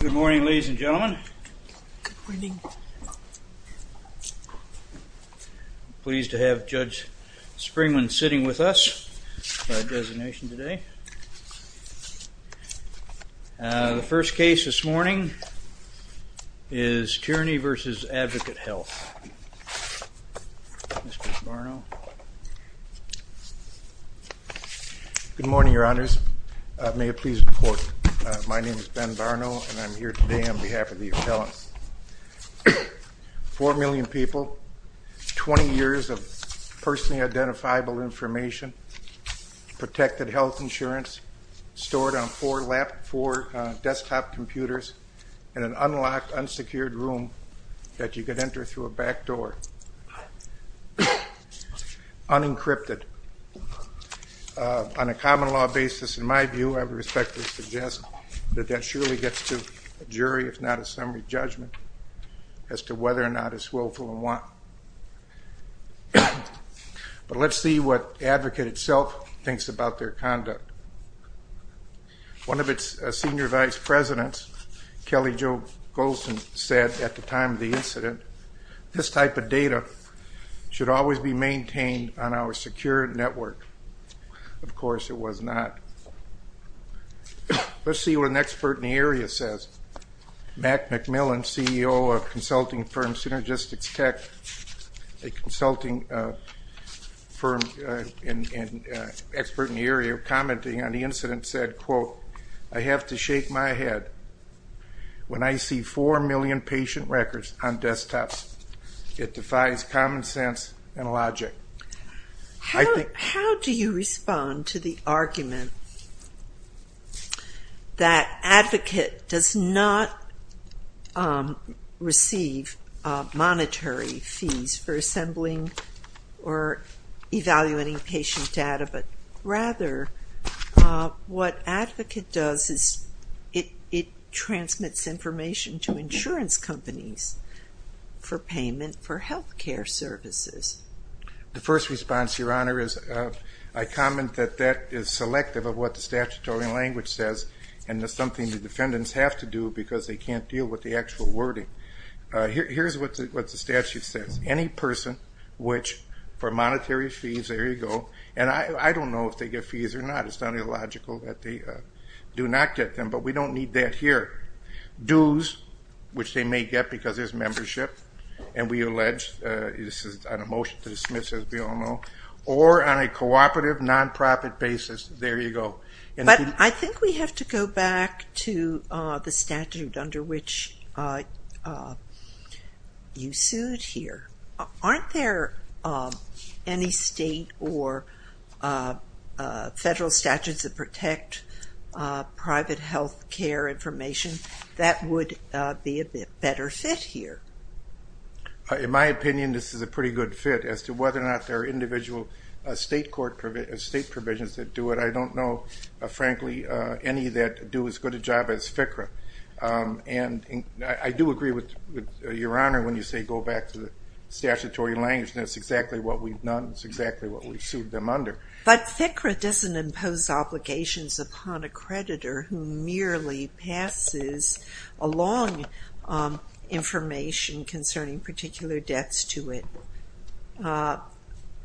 Good morning ladies and gentlemen. Pleased to have Judge Springman sitting with us by designation today. The first case this morning is Tierney v. Advocate Health. Mr. Barno. Good morning your honors. May it please report. My name is Ben Barno and I'm here today on behalf of the appellant. Four million people, 20 years of personally identifiable information, protected health insurance stored on four laptop, four desktop computer through a back door, unencrypted, on a common law basis in my view I would respectfully suggest that that surely gets to a jury if not a summary judgment as to whether or not it's willful and want. But let's see what Advocate itself thinks about their conduct. One of its senior vice presidents, Kelly Jo Goldson, said at the time of the incident this type of data should always be maintained on our secure network. Of course it was not. Let's see what an expert in the area says. Mac McMillan, CEO of consulting firm Synergistics Tech, a consulting firm expert in the area commenting on the incident said, quote, I have to shake my head when I see four million patient records on desktops. It defies common sense and logic. How do you respond to the argument that Advocate does not receive monetary fees for assembling or evaluating patient data, but rather what Advocate does is it transmits information to insurance companies for payment for health care services? The first response, Your Honor, is I comment that that is selective of what the statutory language says, and it's something the defendants have to do because they can't deal with the actual wording. Here's what the statute says. Any person which for monetary fees, there you go, and I don't know if they get fees or not. It's not illogical that they do not get them, but we don't need that here. Dues, which they may get because there's membership, and we allege this is on a motion to dismiss, as we all know, or on a cooperative nonprofit basis, there you go. But I think we have to go back to the statute under which you sued here. Aren't there any state or federal statutes that protect private health care information that would be a better fit here? In my opinion, this is a pretty good fit as to whether or not there are individual state court provisions that do it. I don't know, frankly, any that do as good a job as FCRA, and I do agree with Your Honor when you say go back to the statutory language, and that's exactly what we've done. That's exactly what we've sued them under. But FCRA doesn't impose obligations upon a creditor who merely passes along information concerning particular debts to it.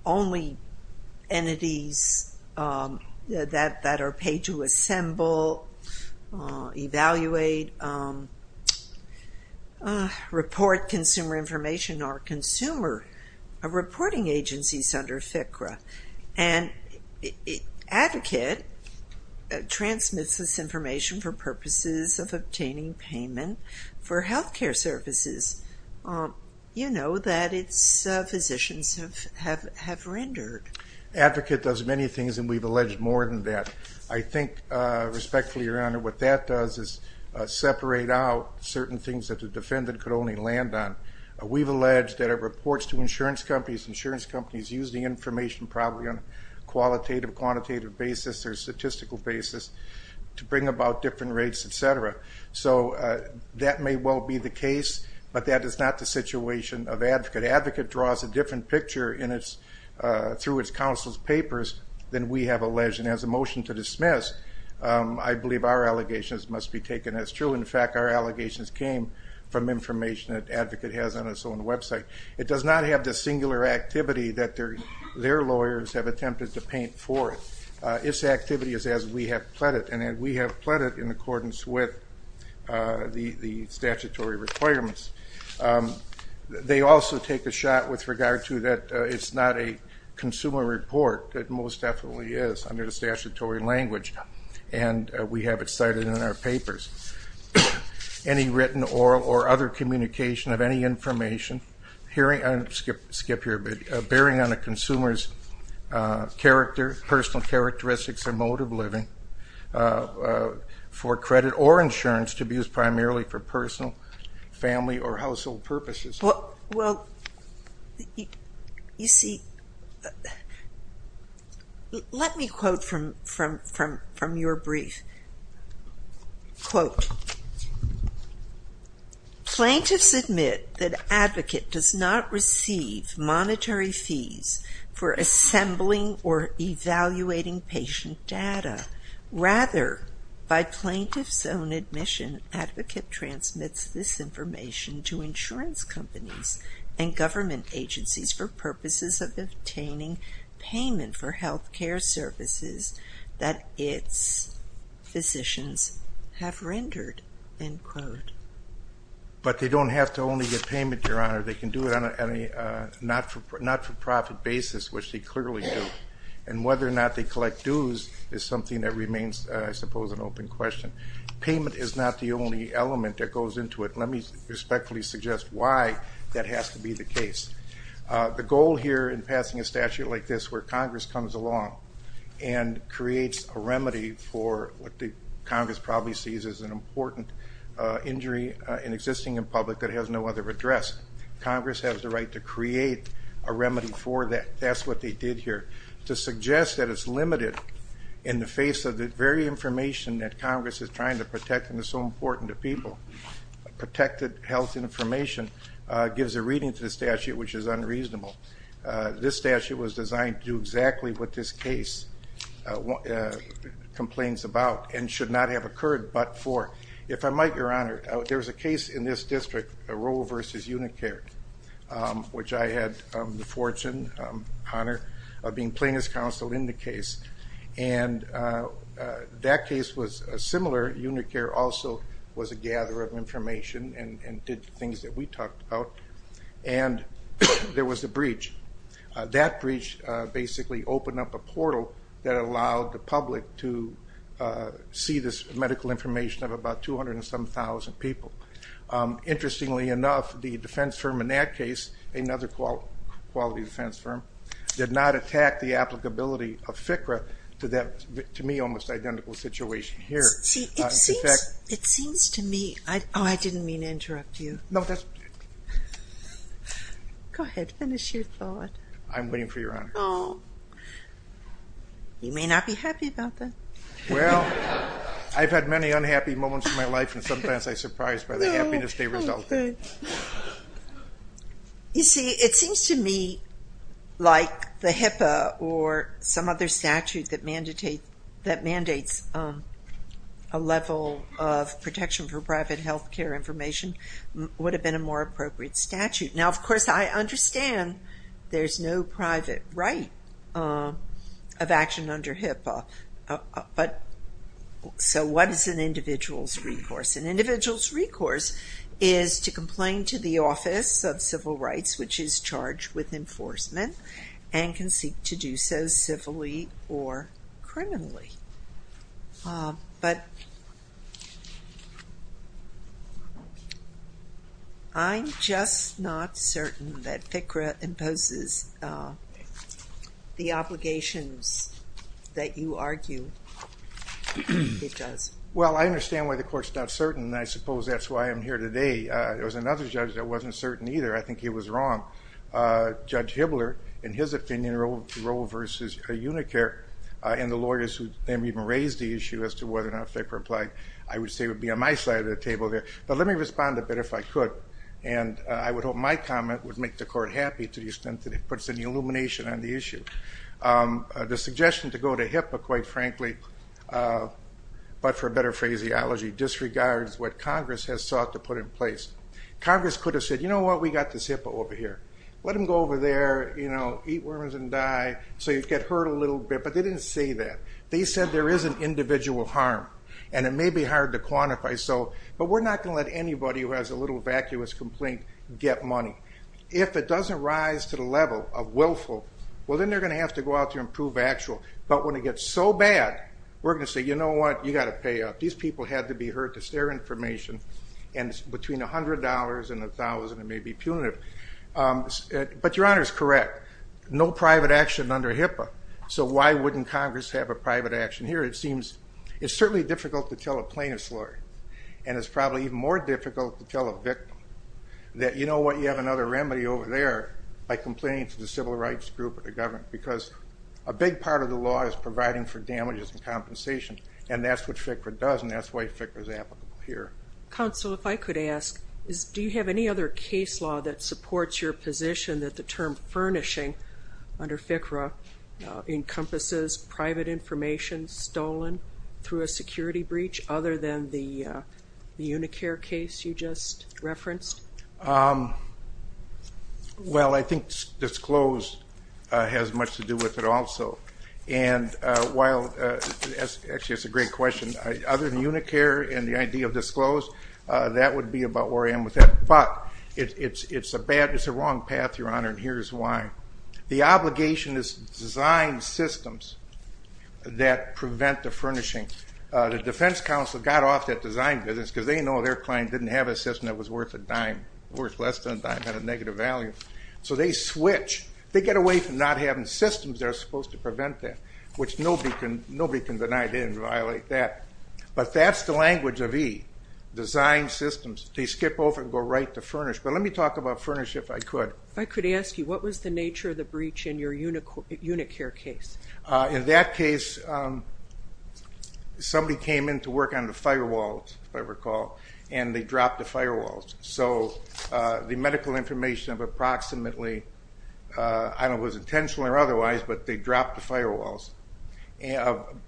Only entities that are paid to assemble, evaluate, report consumer information are consumer reporting agencies under FCRA. An advocate transmits information for purposes of obtaining payment for health care services, you know, that its physicians have rendered. Advocate does many things, and we've alleged more than that. I think, respectfully, Your Honor, what that does is separate out certain things that the defendant could only land on. We've alleged that it reports to insurance companies. Insurance companies use the information probably on a qualitative, quantitative basis or statistical basis to bring about different rates, etc. So that may well be the case, but that is not the situation of advocate. Advocate draws a different picture through its counsel's papers than we have alleged, and as a motion to dismiss, I believe our allegations must be taken as true. In fact, our allegations came from information that advocate has on its own website. It does not have the lawyers have attempted to paint for it. Its activity is as we have pled it, and we have pled it in accordance with the statutory requirements. They also take a shot with regard to that it's not a consumer report. It most definitely is under the statutory language, and we have it cited in our papers. Any written, oral, or other communication of any information bearing on a consumer's personal characteristics or mode of living for credit or insurance to be used primarily for personal, family, or household purposes. Well, you see, let me quote from your brief. Quote, Plaintiffs admit that advocate does not receive monetary fees for assembling or evaluating patient data. Rather, by plaintiff's own admission, advocate transmits this information to insurance companies and government agencies for purposes of obtaining payment for health care services that its physicians have rendered, end quote. But they don't have to only get payment, Your Honor. They can do it on a not-for-profit basis, which they clearly do, and whether or not they collect dues is something that remains, I suppose, an open question. Payment is not the only element that goes into it. Let me respectfully suggest why that has to be the case. The goal here in creates a remedy for what the Congress probably sees as an important injury in existing in public that has no other address. Congress has the right to create a remedy for that. That's what they did here. To suggest that it's limited in the face of the very information that Congress is trying to protect and is so important to people, protected health information, gives a reading to the statute which is unreasonable. This statute was designed to do exactly what this case complains about and should not have occurred but for. If I might, Your Honor, there was a case in this district, Roe v. Unicare, which I had the fortune, honor, of being plaintiff's counsel in the case, and that case was similar. Unicare also was a gatherer of information and did things that we talked about, and there was a breach. That breach basically opened up a portal that allowed the public to see this medical information of about 207,000 people. Interestingly enough, the defense firm in that case, another quality defense firm, did not attack the applicability of FCRA to that, to me, almost identical situation here. It seems to me, oh I didn't mean to interrupt you. Go ahead, finish your thought. I'm waiting for Your Honor. You may not be happy about that. Well, I've had many unhappy moments in my life and sometimes I surprise by the happiness they result in. You see, it seems to me like the HIPAA or some other statute that mandates a level of protection for private health care information would have been a more appropriate statute. Now, of course, I understand there's no private right of action under HIPAA, but so what is an individual's recourse? An individual is charged with enforcement and can seek to do so civilly or criminally, but I'm just not certain that FCRA imposes the obligations that you argue it does. Well, I understand why the Court's not certain, and I suppose that's why I'm here today. There was another judge that wasn't certain either. I think he was wrong. Judge Hibbler, in his opinion, Roe versus Unicare, and the lawyers who then even raised the issue as to whether or not FCRA applied, I would say would be on my side of the table there. But let me respond a bit, if I could, and I would hope my comment would make the Court happy to the extent that it puts an illumination on the issue. The suggestion to go to HIPAA, quite frankly, but for a better phraseology, disregards what Congress has sought to put in place. Congress could have said, you know what, we've got this HIPAA over here. Let them go over there, eat worms and die, so you get hurt a little bit. But they didn't say that. They said there is an individual harm, and it may be hard to quantify, but we're not going to let anybody who has a little vacuous complaint get money. If it doesn't rise to the level of willful, well then they're going to have to go out to improve actual. But when it gets so bad, we're going to say, you know what, you've got to pay up. These people had to be hurt. It's their information, and between $100 and $1,000 it may be punitive. But Your Honor is correct. No private action under HIPAA, so why wouldn't Congress have a private action here? It seems, it's certainly difficult to tell a plaintiff's lawyer, and it's probably even more difficult to tell a victim that, you know what, you have another remedy over there, by complaining to the civil rights group or the government, because a big part of the law is providing for damages and compensation, and that's what FCRA does, and that's why FCRA is applicable here. Counsel, if I could ask, do you have any other case law that supports your position that the term furnishing under FCRA encompasses private information stolen through a security breach, other than the UNICARE case you just referenced? Well, I think disclosed has much to do with it also, and while, actually that's a great question. Other than disclosed, that would be about where I am with that, but it's a bad, it's a wrong path, Your Honor, and here's why. The obligation is to design systems that prevent the furnishing. The defense counsel got off that design business because they know their client didn't have a system that was worth a dime, worth less than a dime, had a negative value, so they switch. They get away from not having systems that are supposed to prevent that, which nobody can deny. They didn't violate that, but that's the language of E, design systems. They skip over and go right to furnish, but let me talk about furnish if I could. If I could ask you, what was the nature of the breach in your UNICARE case? In that case, somebody came in to work on the firewalls, if I recall, and they dropped the firewalls, so the medical information of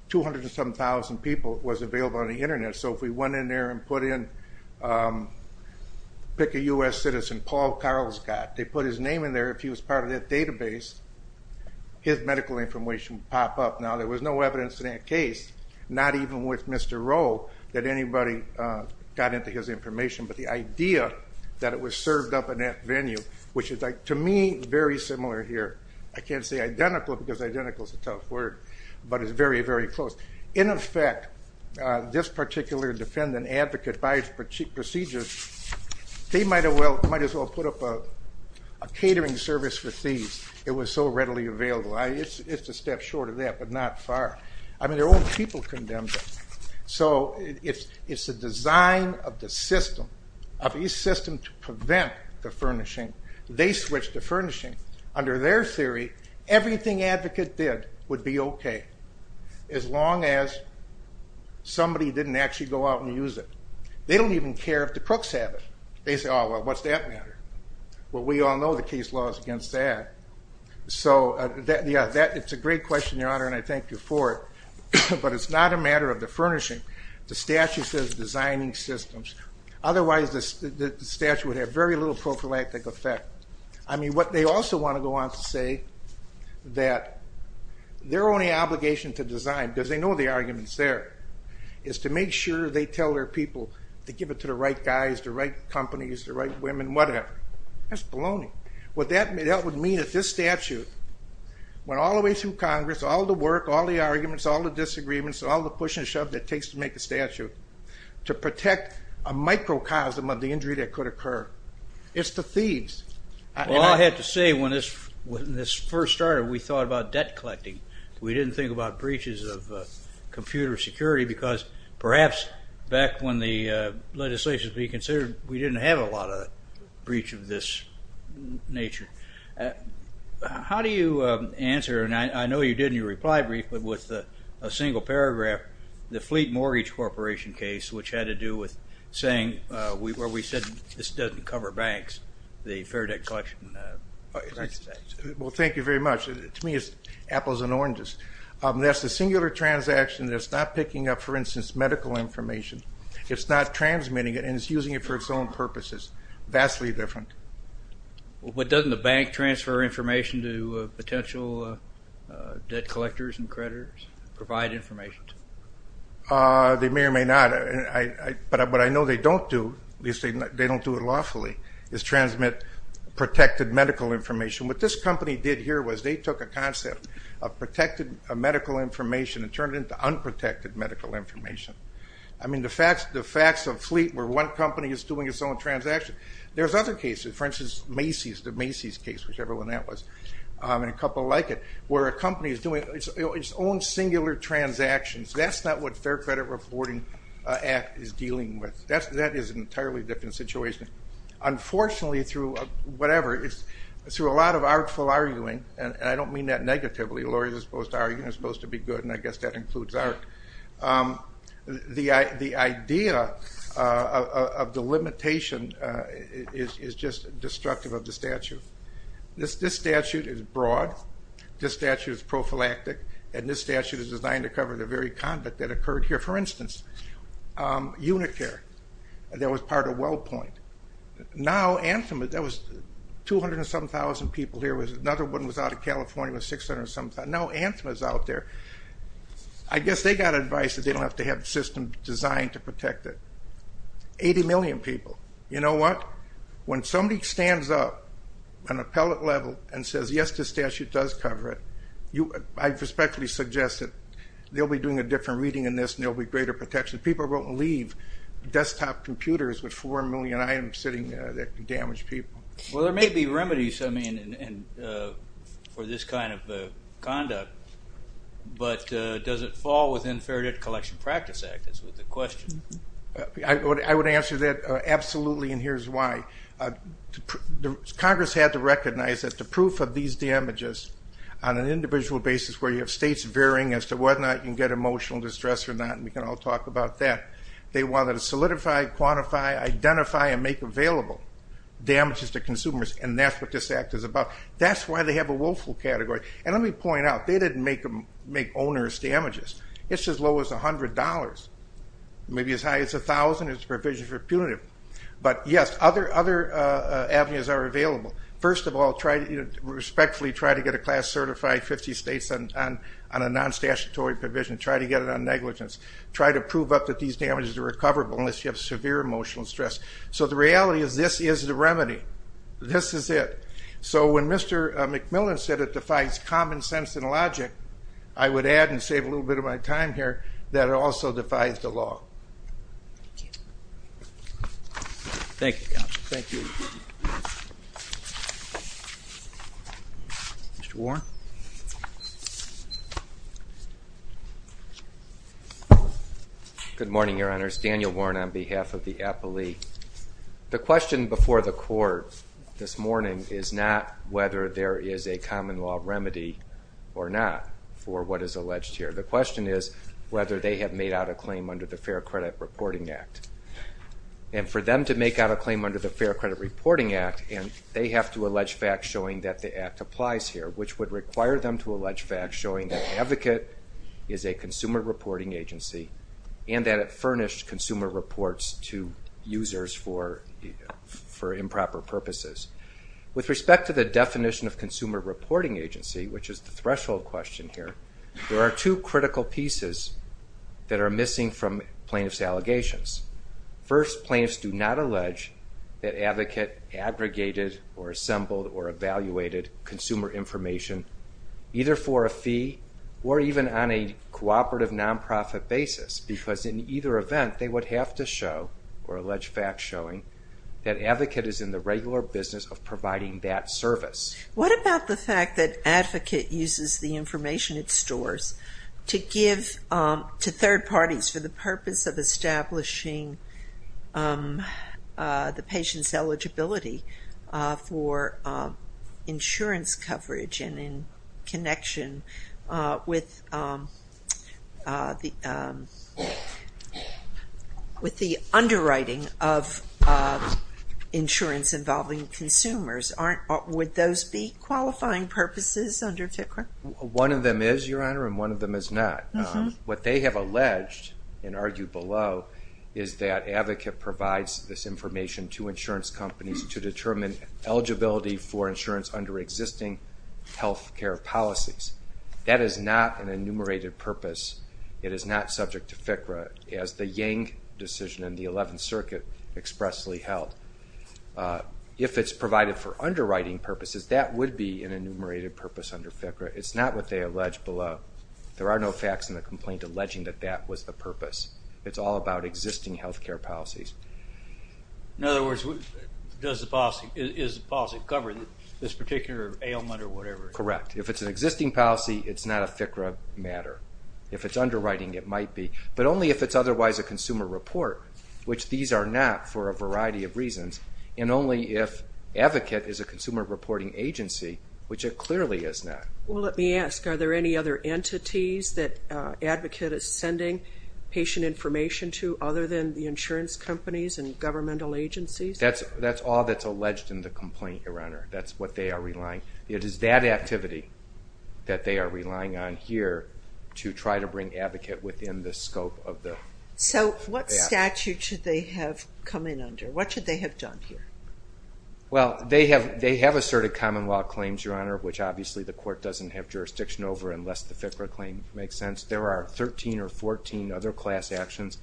207,000 people was available on the internet, so if we went in there and put in, pick a US citizen, Paul Carlscott, they put his name in there, if he was part of that database, his medical information would pop up. Now, there was no evidence in that case, not even with Mr. Rowe, that anybody got into his information, but the idea that it was served up in that venue, which is, to me, very similar here. I can't say identical because identical is a tough word, but it's very, very close. In effect, this particular defendant, advocate, by his procedures, they might as well put up a catering service for thieves. It was so readily available. It's a step short of that, but not far. I mean, their own people condemned it. So it's the design of the system, of E's system to prevent the furnishing. They switched to furnishing. Under their theory, everything advocate did would be okay, as long as somebody didn't actually go out and use it. They don't even care if the crooks have it. They say, oh, well, what's that matter? Well, we all know the case law is against that. So, yeah, it's a great question, Your Honor, and I thank you for it, but it's not a matter of the furnishing. The statute says designing systems. Otherwise, the statute would have very little prophylactic effect. I mean, what they also want to go on to say, that their only obligation to design, because they know the argument's there, is to make sure they tell their people to give it to the right guys, the right companies, the right women, whatever. That's baloney. What that would mean if this statute went all the way through Congress, all the work, all the arguments, all the disagreements, all the push and shove that it takes to make a statute, to protect a microcosm of the injury that could occur. It's the thieves. Well, I have to say, when this first started, we thought about debt collecting. We didn't think about breaches of computer security, because perhaps, back when the legislation was being considered, we didn't have a lot of breach of this nature. How do you answer, and I know you did in your reply brief, but with a single paragraph, the Fleet Mortgage Corporation case, which had to do with saying, where we said, this doesn't cover banks, the Fair Debt Collection Association. Well, thank you very much. To me, it's apples and oranges. That's a singular transaction that's not picking up, for instance, medical information. It's not transmitting it, and it's using it for its own purposes. Vastly different. But doesn't the bank transfer information to potential debt collectors and creditors, provide information to them? They may or may not, but what I know they don't do, at least they don't do it lawfully, is transmit protected medical information. What this company did here was they took a concept of protected medical information and turned it into unprotected medical information. I mean, the facts of Fleet, where one company is doing its own transaction. There's other cases, for instance, Macy's, the Macy's case, whichever one that was, and a couple like it, where a company is doing its own singular transactions. That's not what Fair Credit Reporting Act is dealing with. That is an entirely different situation. Unfortunately, through whatever, it's through a lot of artful arguing, and I don't mean that negatively. Lawyers are supposed to argue and it's supposed to be good, and I guess that includes art. The idea of the limitation is just destructive of the statute. This statute is broad, this statute is prophylactic, and this statute is designed to cover the very conduct that occurred here. For instance, Unicare, that was part of Wellpoint. Now Anthem, there was 200 and some thousand people here, another one was out of California, was 600 and some thousand. Now Anthem is out there. I guess they got advice that they don't have to have the system designed to protect it. 80 million people. You know what? When somebody stands up on appellate level and says, yes, this statute does cover it, I respectfully suggest that they'll be doing a different reading in this and there'll be greater protection. People won't leave desktop computers with 4 million items sitting there to damage people. Well, there may be remedies for this kind of conduct, but does it fall within Faraday Collection Practice Act, is the question. I would answer that absolutely, and here's why. Congress had to recognize that the proof of these damages, on an individual basis where you have states varying as to whether or not you can get emotional distress or not, and we can all talk about that, they wanted to solidify, quantify, identify, and make available damages to consumers, and that's what this act is about. That's why they have a willful category, and let me point out, they didn't make owners damages. It's as low as $100, maybe as high as $1,000, it's a provision for punitive. But yes, other avenues are available. First of all, respectfully try to get a class certified 50 states on a non-statutory provision. Try to get that these damages are recoverable unless you have severe emotional stress. So the reality is this is the remedy. This is it. So when Mr. McMillan said it defies common sense and logic, I would add and save a little bit of my time here, that it also defies the law. Thank you. Mr. Warren. Good morning, your honors. Daniel Warren on behalf of the appellee. The question before the court this morning is not whether there is a fair credit reporting act. And for them to make out a claim under the fair credit reporting act, they have to allege facts showing that the act applies here, which would require them to allege facts showing that the advocate is a consumer reporting agency and that it furnished consumer reports to users for improper purposes. With respect to the definition of consumer reporting agency, which is the threshold question here, there are two critical pieces that are missing from plaintiff's allegations. First, plaintiffs do not allege that advocate aggregated or assembled or evaluated consumer information either for a fee or even on a cooperative nonprofit basis because in either event, they would have to show or allege facts showing that advocate is in the regular business of providing that service. What about the fact that advocate uses the information it stores to give to third parties for the purpose of establishing the patient's eligibility for insurance coverage and in connection with the underwriting of insurance involving consumers? Would those be qualifying purposes under FCRA? One of them is, your honor, and one of them is not. What they have alleged and argued below is that advocate provides this information to insurance companies to determine eligibility for insurance under existing health care policies. That is not an enumerated purpose. It is not subject to FCRA as the Yang decision in the 11th Circuit expressly held. If it's provided for underwriting purposes, that would be an enumerated purpose under FCRA. It's not what they allege below. There are no facts in the complaint alleging that that was the purpose. It's all about existing health care policies. In other words, does the policy, is the policy covering this particular ailment or whatever? Correct. If it's an existing policy, it's not a FCRA matter. If it's underwriting, it might be. But only if it's otherwise a consumer report, which these are not for a variety of reasons, and only if advocate is a consumer reporting agency, which it clearly is not. Well, let me ask, are there any other entities that advocate is sending patient information to other than the insurance companies and governmental agencies? That's all that's alleged in the complaint, Your Honor. That's what they are relying on. It is that activity that they are relying on here to try to bring advocate within the scope of the application. So, what statute should they have come in under? What should they have done here? Well, they have asserted common law claims, Your Honor, which obviously the court doesn't have jurisdiction over unless the FCRA claim makes sense. There are 13 or 14 other class actions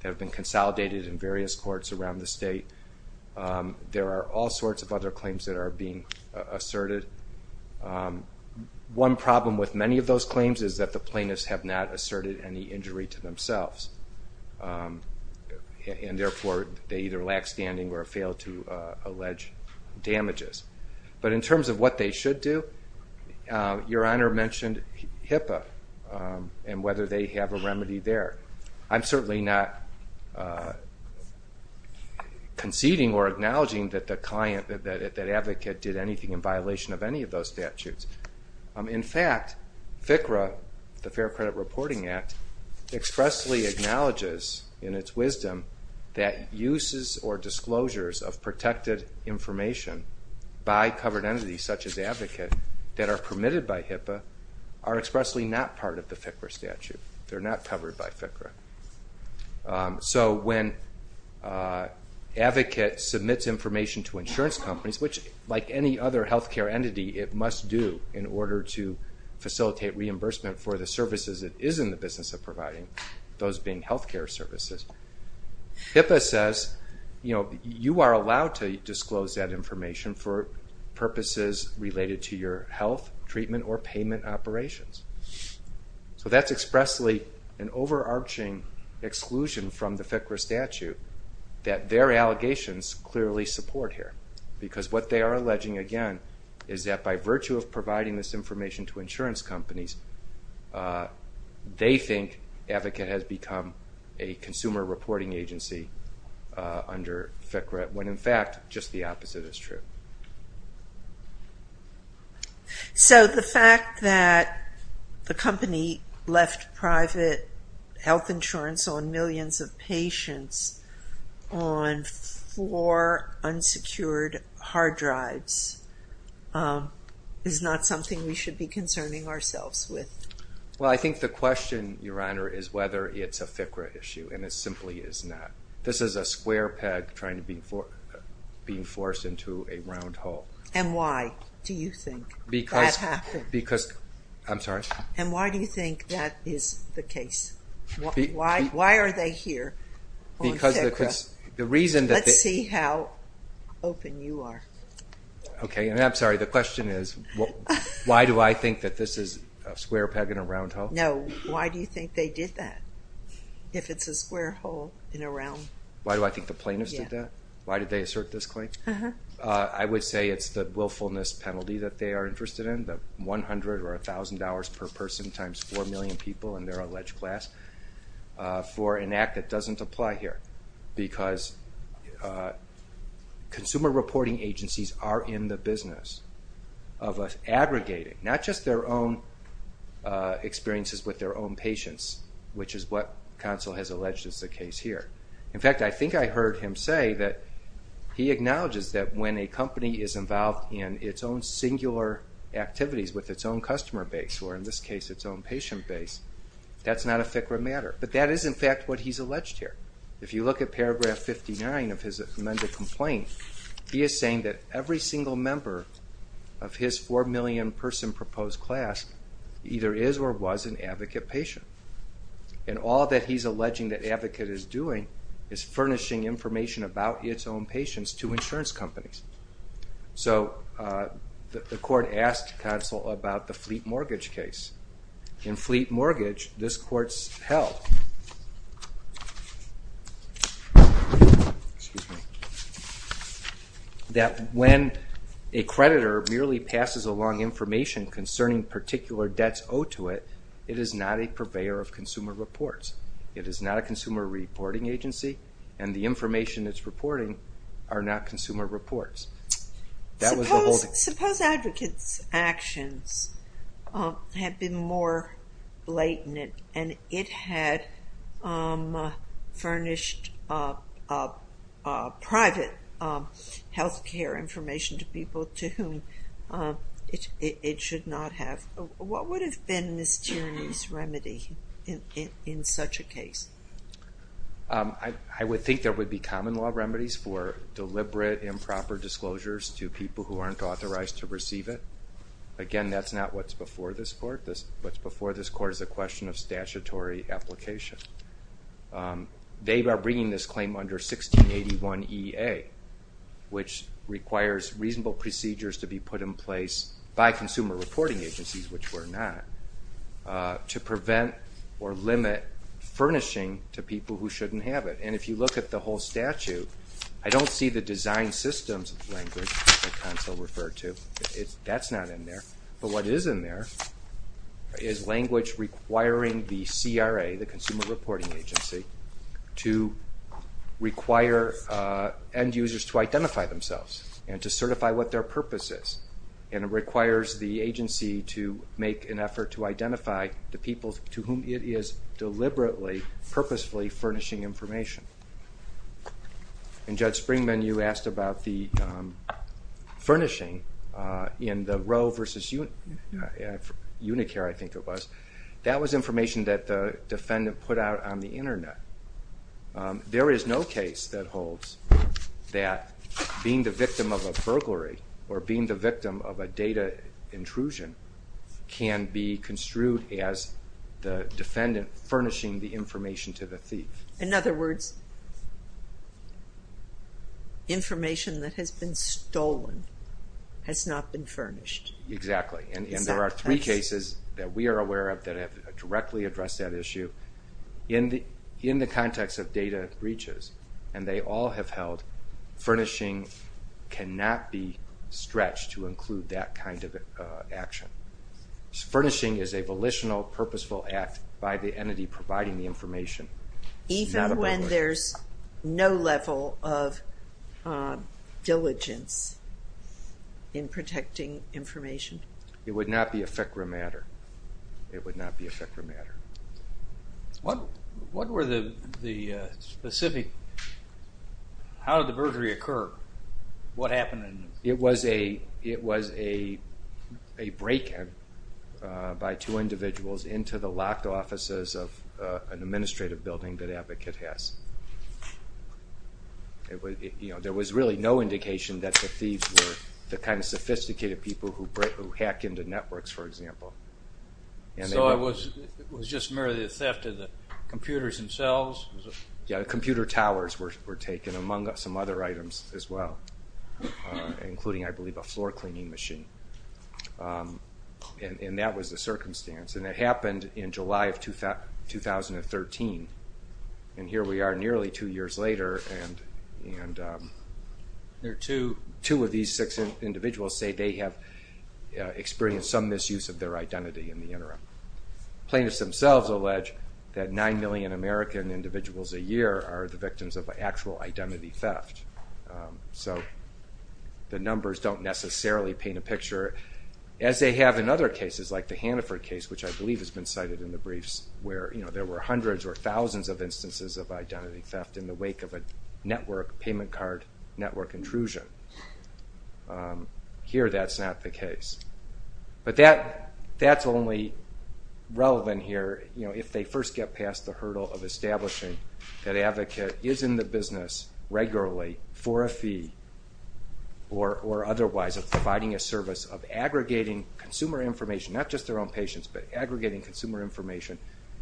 that have been consolidated in various courts around the state. There are all sorts of other claims that are being asserted. One problem with many of those claims is that the plaintiffs have not asserted any injury to themselves, and therefore, they either lack standing or fail to allege damages. But in terms of what they should do, Your Honor mentioned HIPAA and whether they have a remedy there. I'm certainly not conceding or acknowledging that the client, that advocate did anything in violation of any of those statutes. In fact, FCRA, the Fair Credit Reporting Act, expressly acknowledges in its wisdom that uses or disclosures of protected information by covered entities such as advocate that are permitted by HIPAA are expressly not part of the FCRA statute. They are not covered by FCRA. So when advocate submits information to insurance companies, which like any other health care entity, it must do in order to facilitate reimbursement for the services it is in the business of providing, those being health care services. HIPAA says, you are allowed to disclose that information for purposes related to your health, treatment, or payment operations. So that's expressly an overarching exclusion from the FCRA statute that their allegations clearly support here. Because what they are alleging, again, is that by virtue of providing this information to insurance companies, they think advocate has become a consumer reporting agency under FCRA, when in fact, just the opposite is true. So the fact that the company left private health insurance on millions of patients on four unsecured hard drives is not something we should be concerning ourselves with? Well, I think the question, Your Honor, is whether it's a FCRA issue, and it simply is not. This is a square peg trying to be forced into a round hole. And why do you think that happened? Because, I'm sorry? And why do you think that is the case? Why are they here on FCRA? Because the reason that they... Let's see how open you are. Okay, and I'm sorry, the question is, why do I think that this is a square peg in a round hole? No, why do you think they did that, if it's a square hole in a round? Why do I think the plaintiffs did that? Why did they assert this claim? I would say it's the willfulness penalty that they are interested in, the $100 or $1,000 per person times 4 million people in their alleged class, for an act that doesn't apply here. Because consumer reporting agencies are in the business of aggregating, not just their own experiences with their own patients, which is what counsel has alleged is the case here. In fact, I think I heard him say that he acknowledges that when a company is involved in its own singular activities with its own customer base, or in this case, its own patient base, that's not a FCRA matter. But that is, in fact, what he's alleged here. If you look at paragraph 59 of his amended complaint, he is saying that every single member of his 4 million person proposed class either is or was an Advocate patient. And all that he's alleging that Advocate is doing is furnishing information about its own patients to insurance companies. So the court asked counsel about the Fleet Mortgage case. In Fleet Mortgage, this court's held. Excuse me. That when a creditor merely passes along information concerning particular debts owed to it, it is not a purveyor of consumer reports. It is not a consumer reporting agency, and the information it's reporting are not consumer reports. Suppose Advocate's actions have been more blatant, and it had furnished private health care information to people to whom it should not have. What would have been Ms. Tierney's remedy in such a case? I would think there would be common law remedies for deliberate improper disclosures to people who aren't authorized to receive it. Again, that's not what's before this court. What's before this court is a question of statutory application. They are bringing this claim under 1681EA, which requires reasonable procedures to be put in place by consumer reporting agencies, which we're not, to prevent or limit furnishing to people who shouldn't have it. And if you look at the whole statute, I don't see the design systems language that counsel referred to. That's not in there. But what is in there is language requiring the CRA, the Consumer Reporting Agency, to require end users to identify themselves and to certify what their purpose is. And it requires the agency to make an effort to identify the people to whom it is deliberately, purposefully furnishing information. And Judge Springman, you asked about the furnishing in the Roe versus Unicare, I think it was. That was information that the defendant put out on the internet. There is no case that holds that being the victim of a burglary or being the victim of a data intrusion can be construed as the defendant furnishing the information to the thief. In other words, information that has been stolen has not been furnished. Exactly. And there are three cases that we are aware of that have directly addressed that issue. In the context of data breaches, and they all have held, furnishing cannot be stretched to include that kind of action. Furnishing is a volitional, purposeful act by the entity providing the information. Even when there's no level of diligence in protecting information? It would not be a FCRA matter. It would not be a FCRA matter. What were the specific, how did the burglary occur? What happened? It was a break-in by two individuals into the locked offices of an administrative building that Advocate has. There was really no indication that the thieves were the kind of sophisticated people who hack into networks, for example. So it was just merely a theft of the computers themselves? Yeah, computer towers were taken, among some other items as well, including, I believe, a floor cleaning machine. And that was the circumstance. And it happened in July of 2013, and here we are nearly two years later, and two of these six individuals say they have experienced some misuse of their identity in the interim. Plaintiffs themselves allege that nine million American individuals a year are the victims of actual identity theft. So the numbers don't necessarily paint a picture, as they have in other cases, like the Haniford case, which I believe has been cited in the briefs, where there were hundreds or thousands of instances of identity theft in the wake of a network payment card network intrusion. Here, that's not the case. But that's only relevant here if they first get past the hurdle of establishing that Advocate is in the business regularly for a fee, or otherwise of providing a service of aggregating consumer information, not just their own patients, but aggregating consumer information,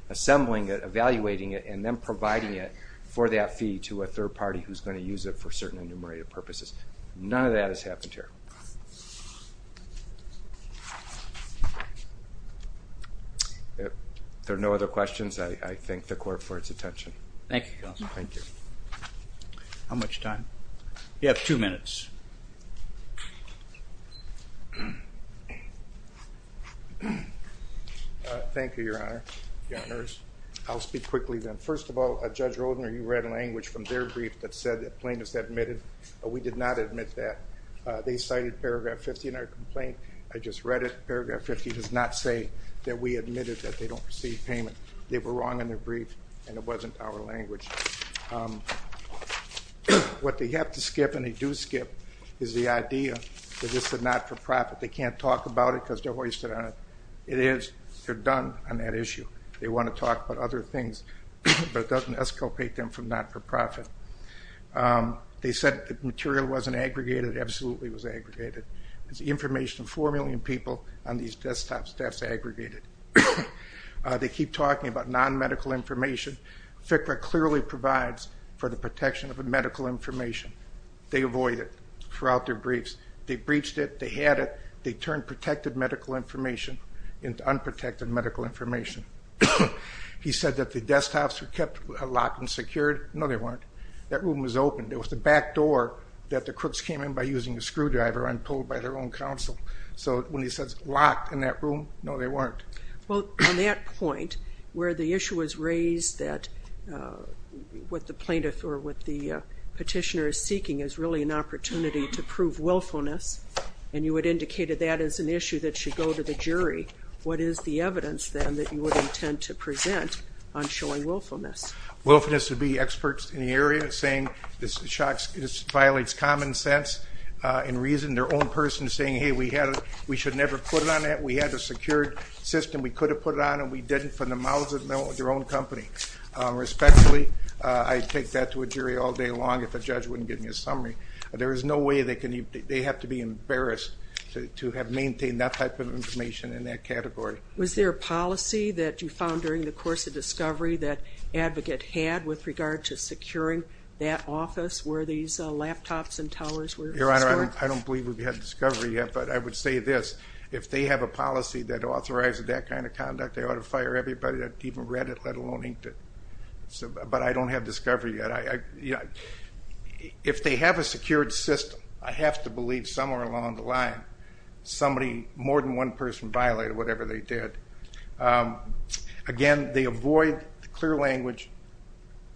assembling it, evaluating it, and then providing it for that fee to a third party who's going to use it for certain enumerated purposes. None of that has happened here. There are no other questions. I thank the Court for its attention. Thank you, Counsel. Thank you. How much time? You have two minutes. Thank you, Your Honor. I'll speak quickly then. First of all, Judge Roldner, you read language from their brief that said that plaintiffs admitted. We did not admit that. They cited paragraph 50 in our complaint. I just read it. Paragraph 50 does not say that we admitted that they don't receive payment. They were wrong in their brief, and it wasn't our language. What they have to skip, and they do skip, is the idea that this is a not-for-profit. They can't talk about it because they're hoisted on it. It is. They're done on that issue. They want to talk about other things, but it doesn't escapate them from not-for-profit. They said the material wasn't aggregated. It absolutely was aggregated. There's information of 4 million people on these desktops that's aggregated. They keep talking about non-medical information. FCRA clearly provides for the protection of medical information. They avoid it throughout their briefs. They breached it. They had it. They turned protected medical information into unprotected medical information. He said that the desktops were kept locked and secured. No, they weren't. That room was open. It was the back door that the crooks came in by using a screwdriver and pulled by their own counsel. So when he says locked in that room, no, they weren't. Well, on that point, where the issue was raised that what the plaintiff or what the petitioner is seeking is really an opportunity to prove willfulness, and you had indicated that is an issue that should go to the jury, what is the evidence then that you would intend to present on showing willfulness? Willfulness would be experts in the area saying this violates common sense and reason. Their own person saying, hey, we should never put it on that. We had a secured system. We could have put it on and we didn't from the mouths of their own company. Respectfully, I'd take that to a jury all day long if the judge wouldn't give me a summary. There is no way they have to be embarrassed to have maintained that type of information in that category. Was there a policy that you found during the course of discovery that Advocate had with regard to securing that office where these laptops and towers were stored? Your Honor, I don't believe we've had discovery yet, but I would say this. If they have a policy that authorizes that kind of conduct, they ought to fire everybody that even read it, let alone inked it. But I don't have discovery yet. If they have a secured system, I have to believe somewhere along the line, somebody, more than one person, violated whatever they did. Again, they avoid the clear language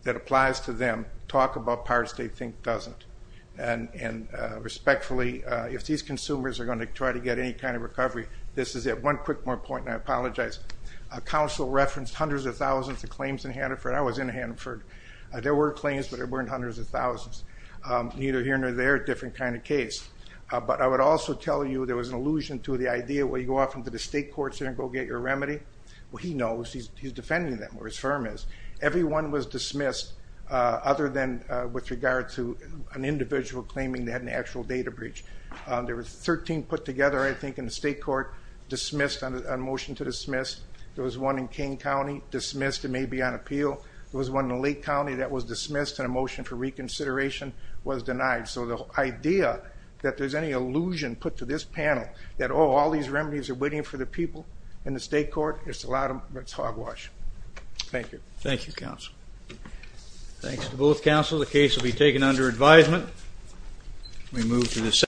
that applies to them. Talk about parts they think doesn't. Respectfully, if these consumers are going to try to get any kind of recovery, this is it. One quick more point, and I apologize. Counsel referenced hundreds of thousands of claims in Hanford. I was in Hanford. There were claims, but there weren't hundreds of thousands. Neither here nor there, different kind of case. But I would also tell you there was an allusion to the idea where you go off into the state courts there and go get your remedy. Well, he knows. He's defending them, or his firm is. Every one was dismissed other than with regard to an individual claiming they had an actual data breach. There were 13 put together, I think, in the state court, dismissed, a motion to dismiss. There was one in King County, dismissed. It may be on appeal. There was one in Lake County that was dismissed, and a motion for reconsideration was denied. So the idea that there's any allusion put to this panel that, oh, all these remedies are waiting for the people in the state court, it's hogwash. Thank you. Thank you, counsel. Thanks to both counsel. The case will be taken under advisement. We move to the second.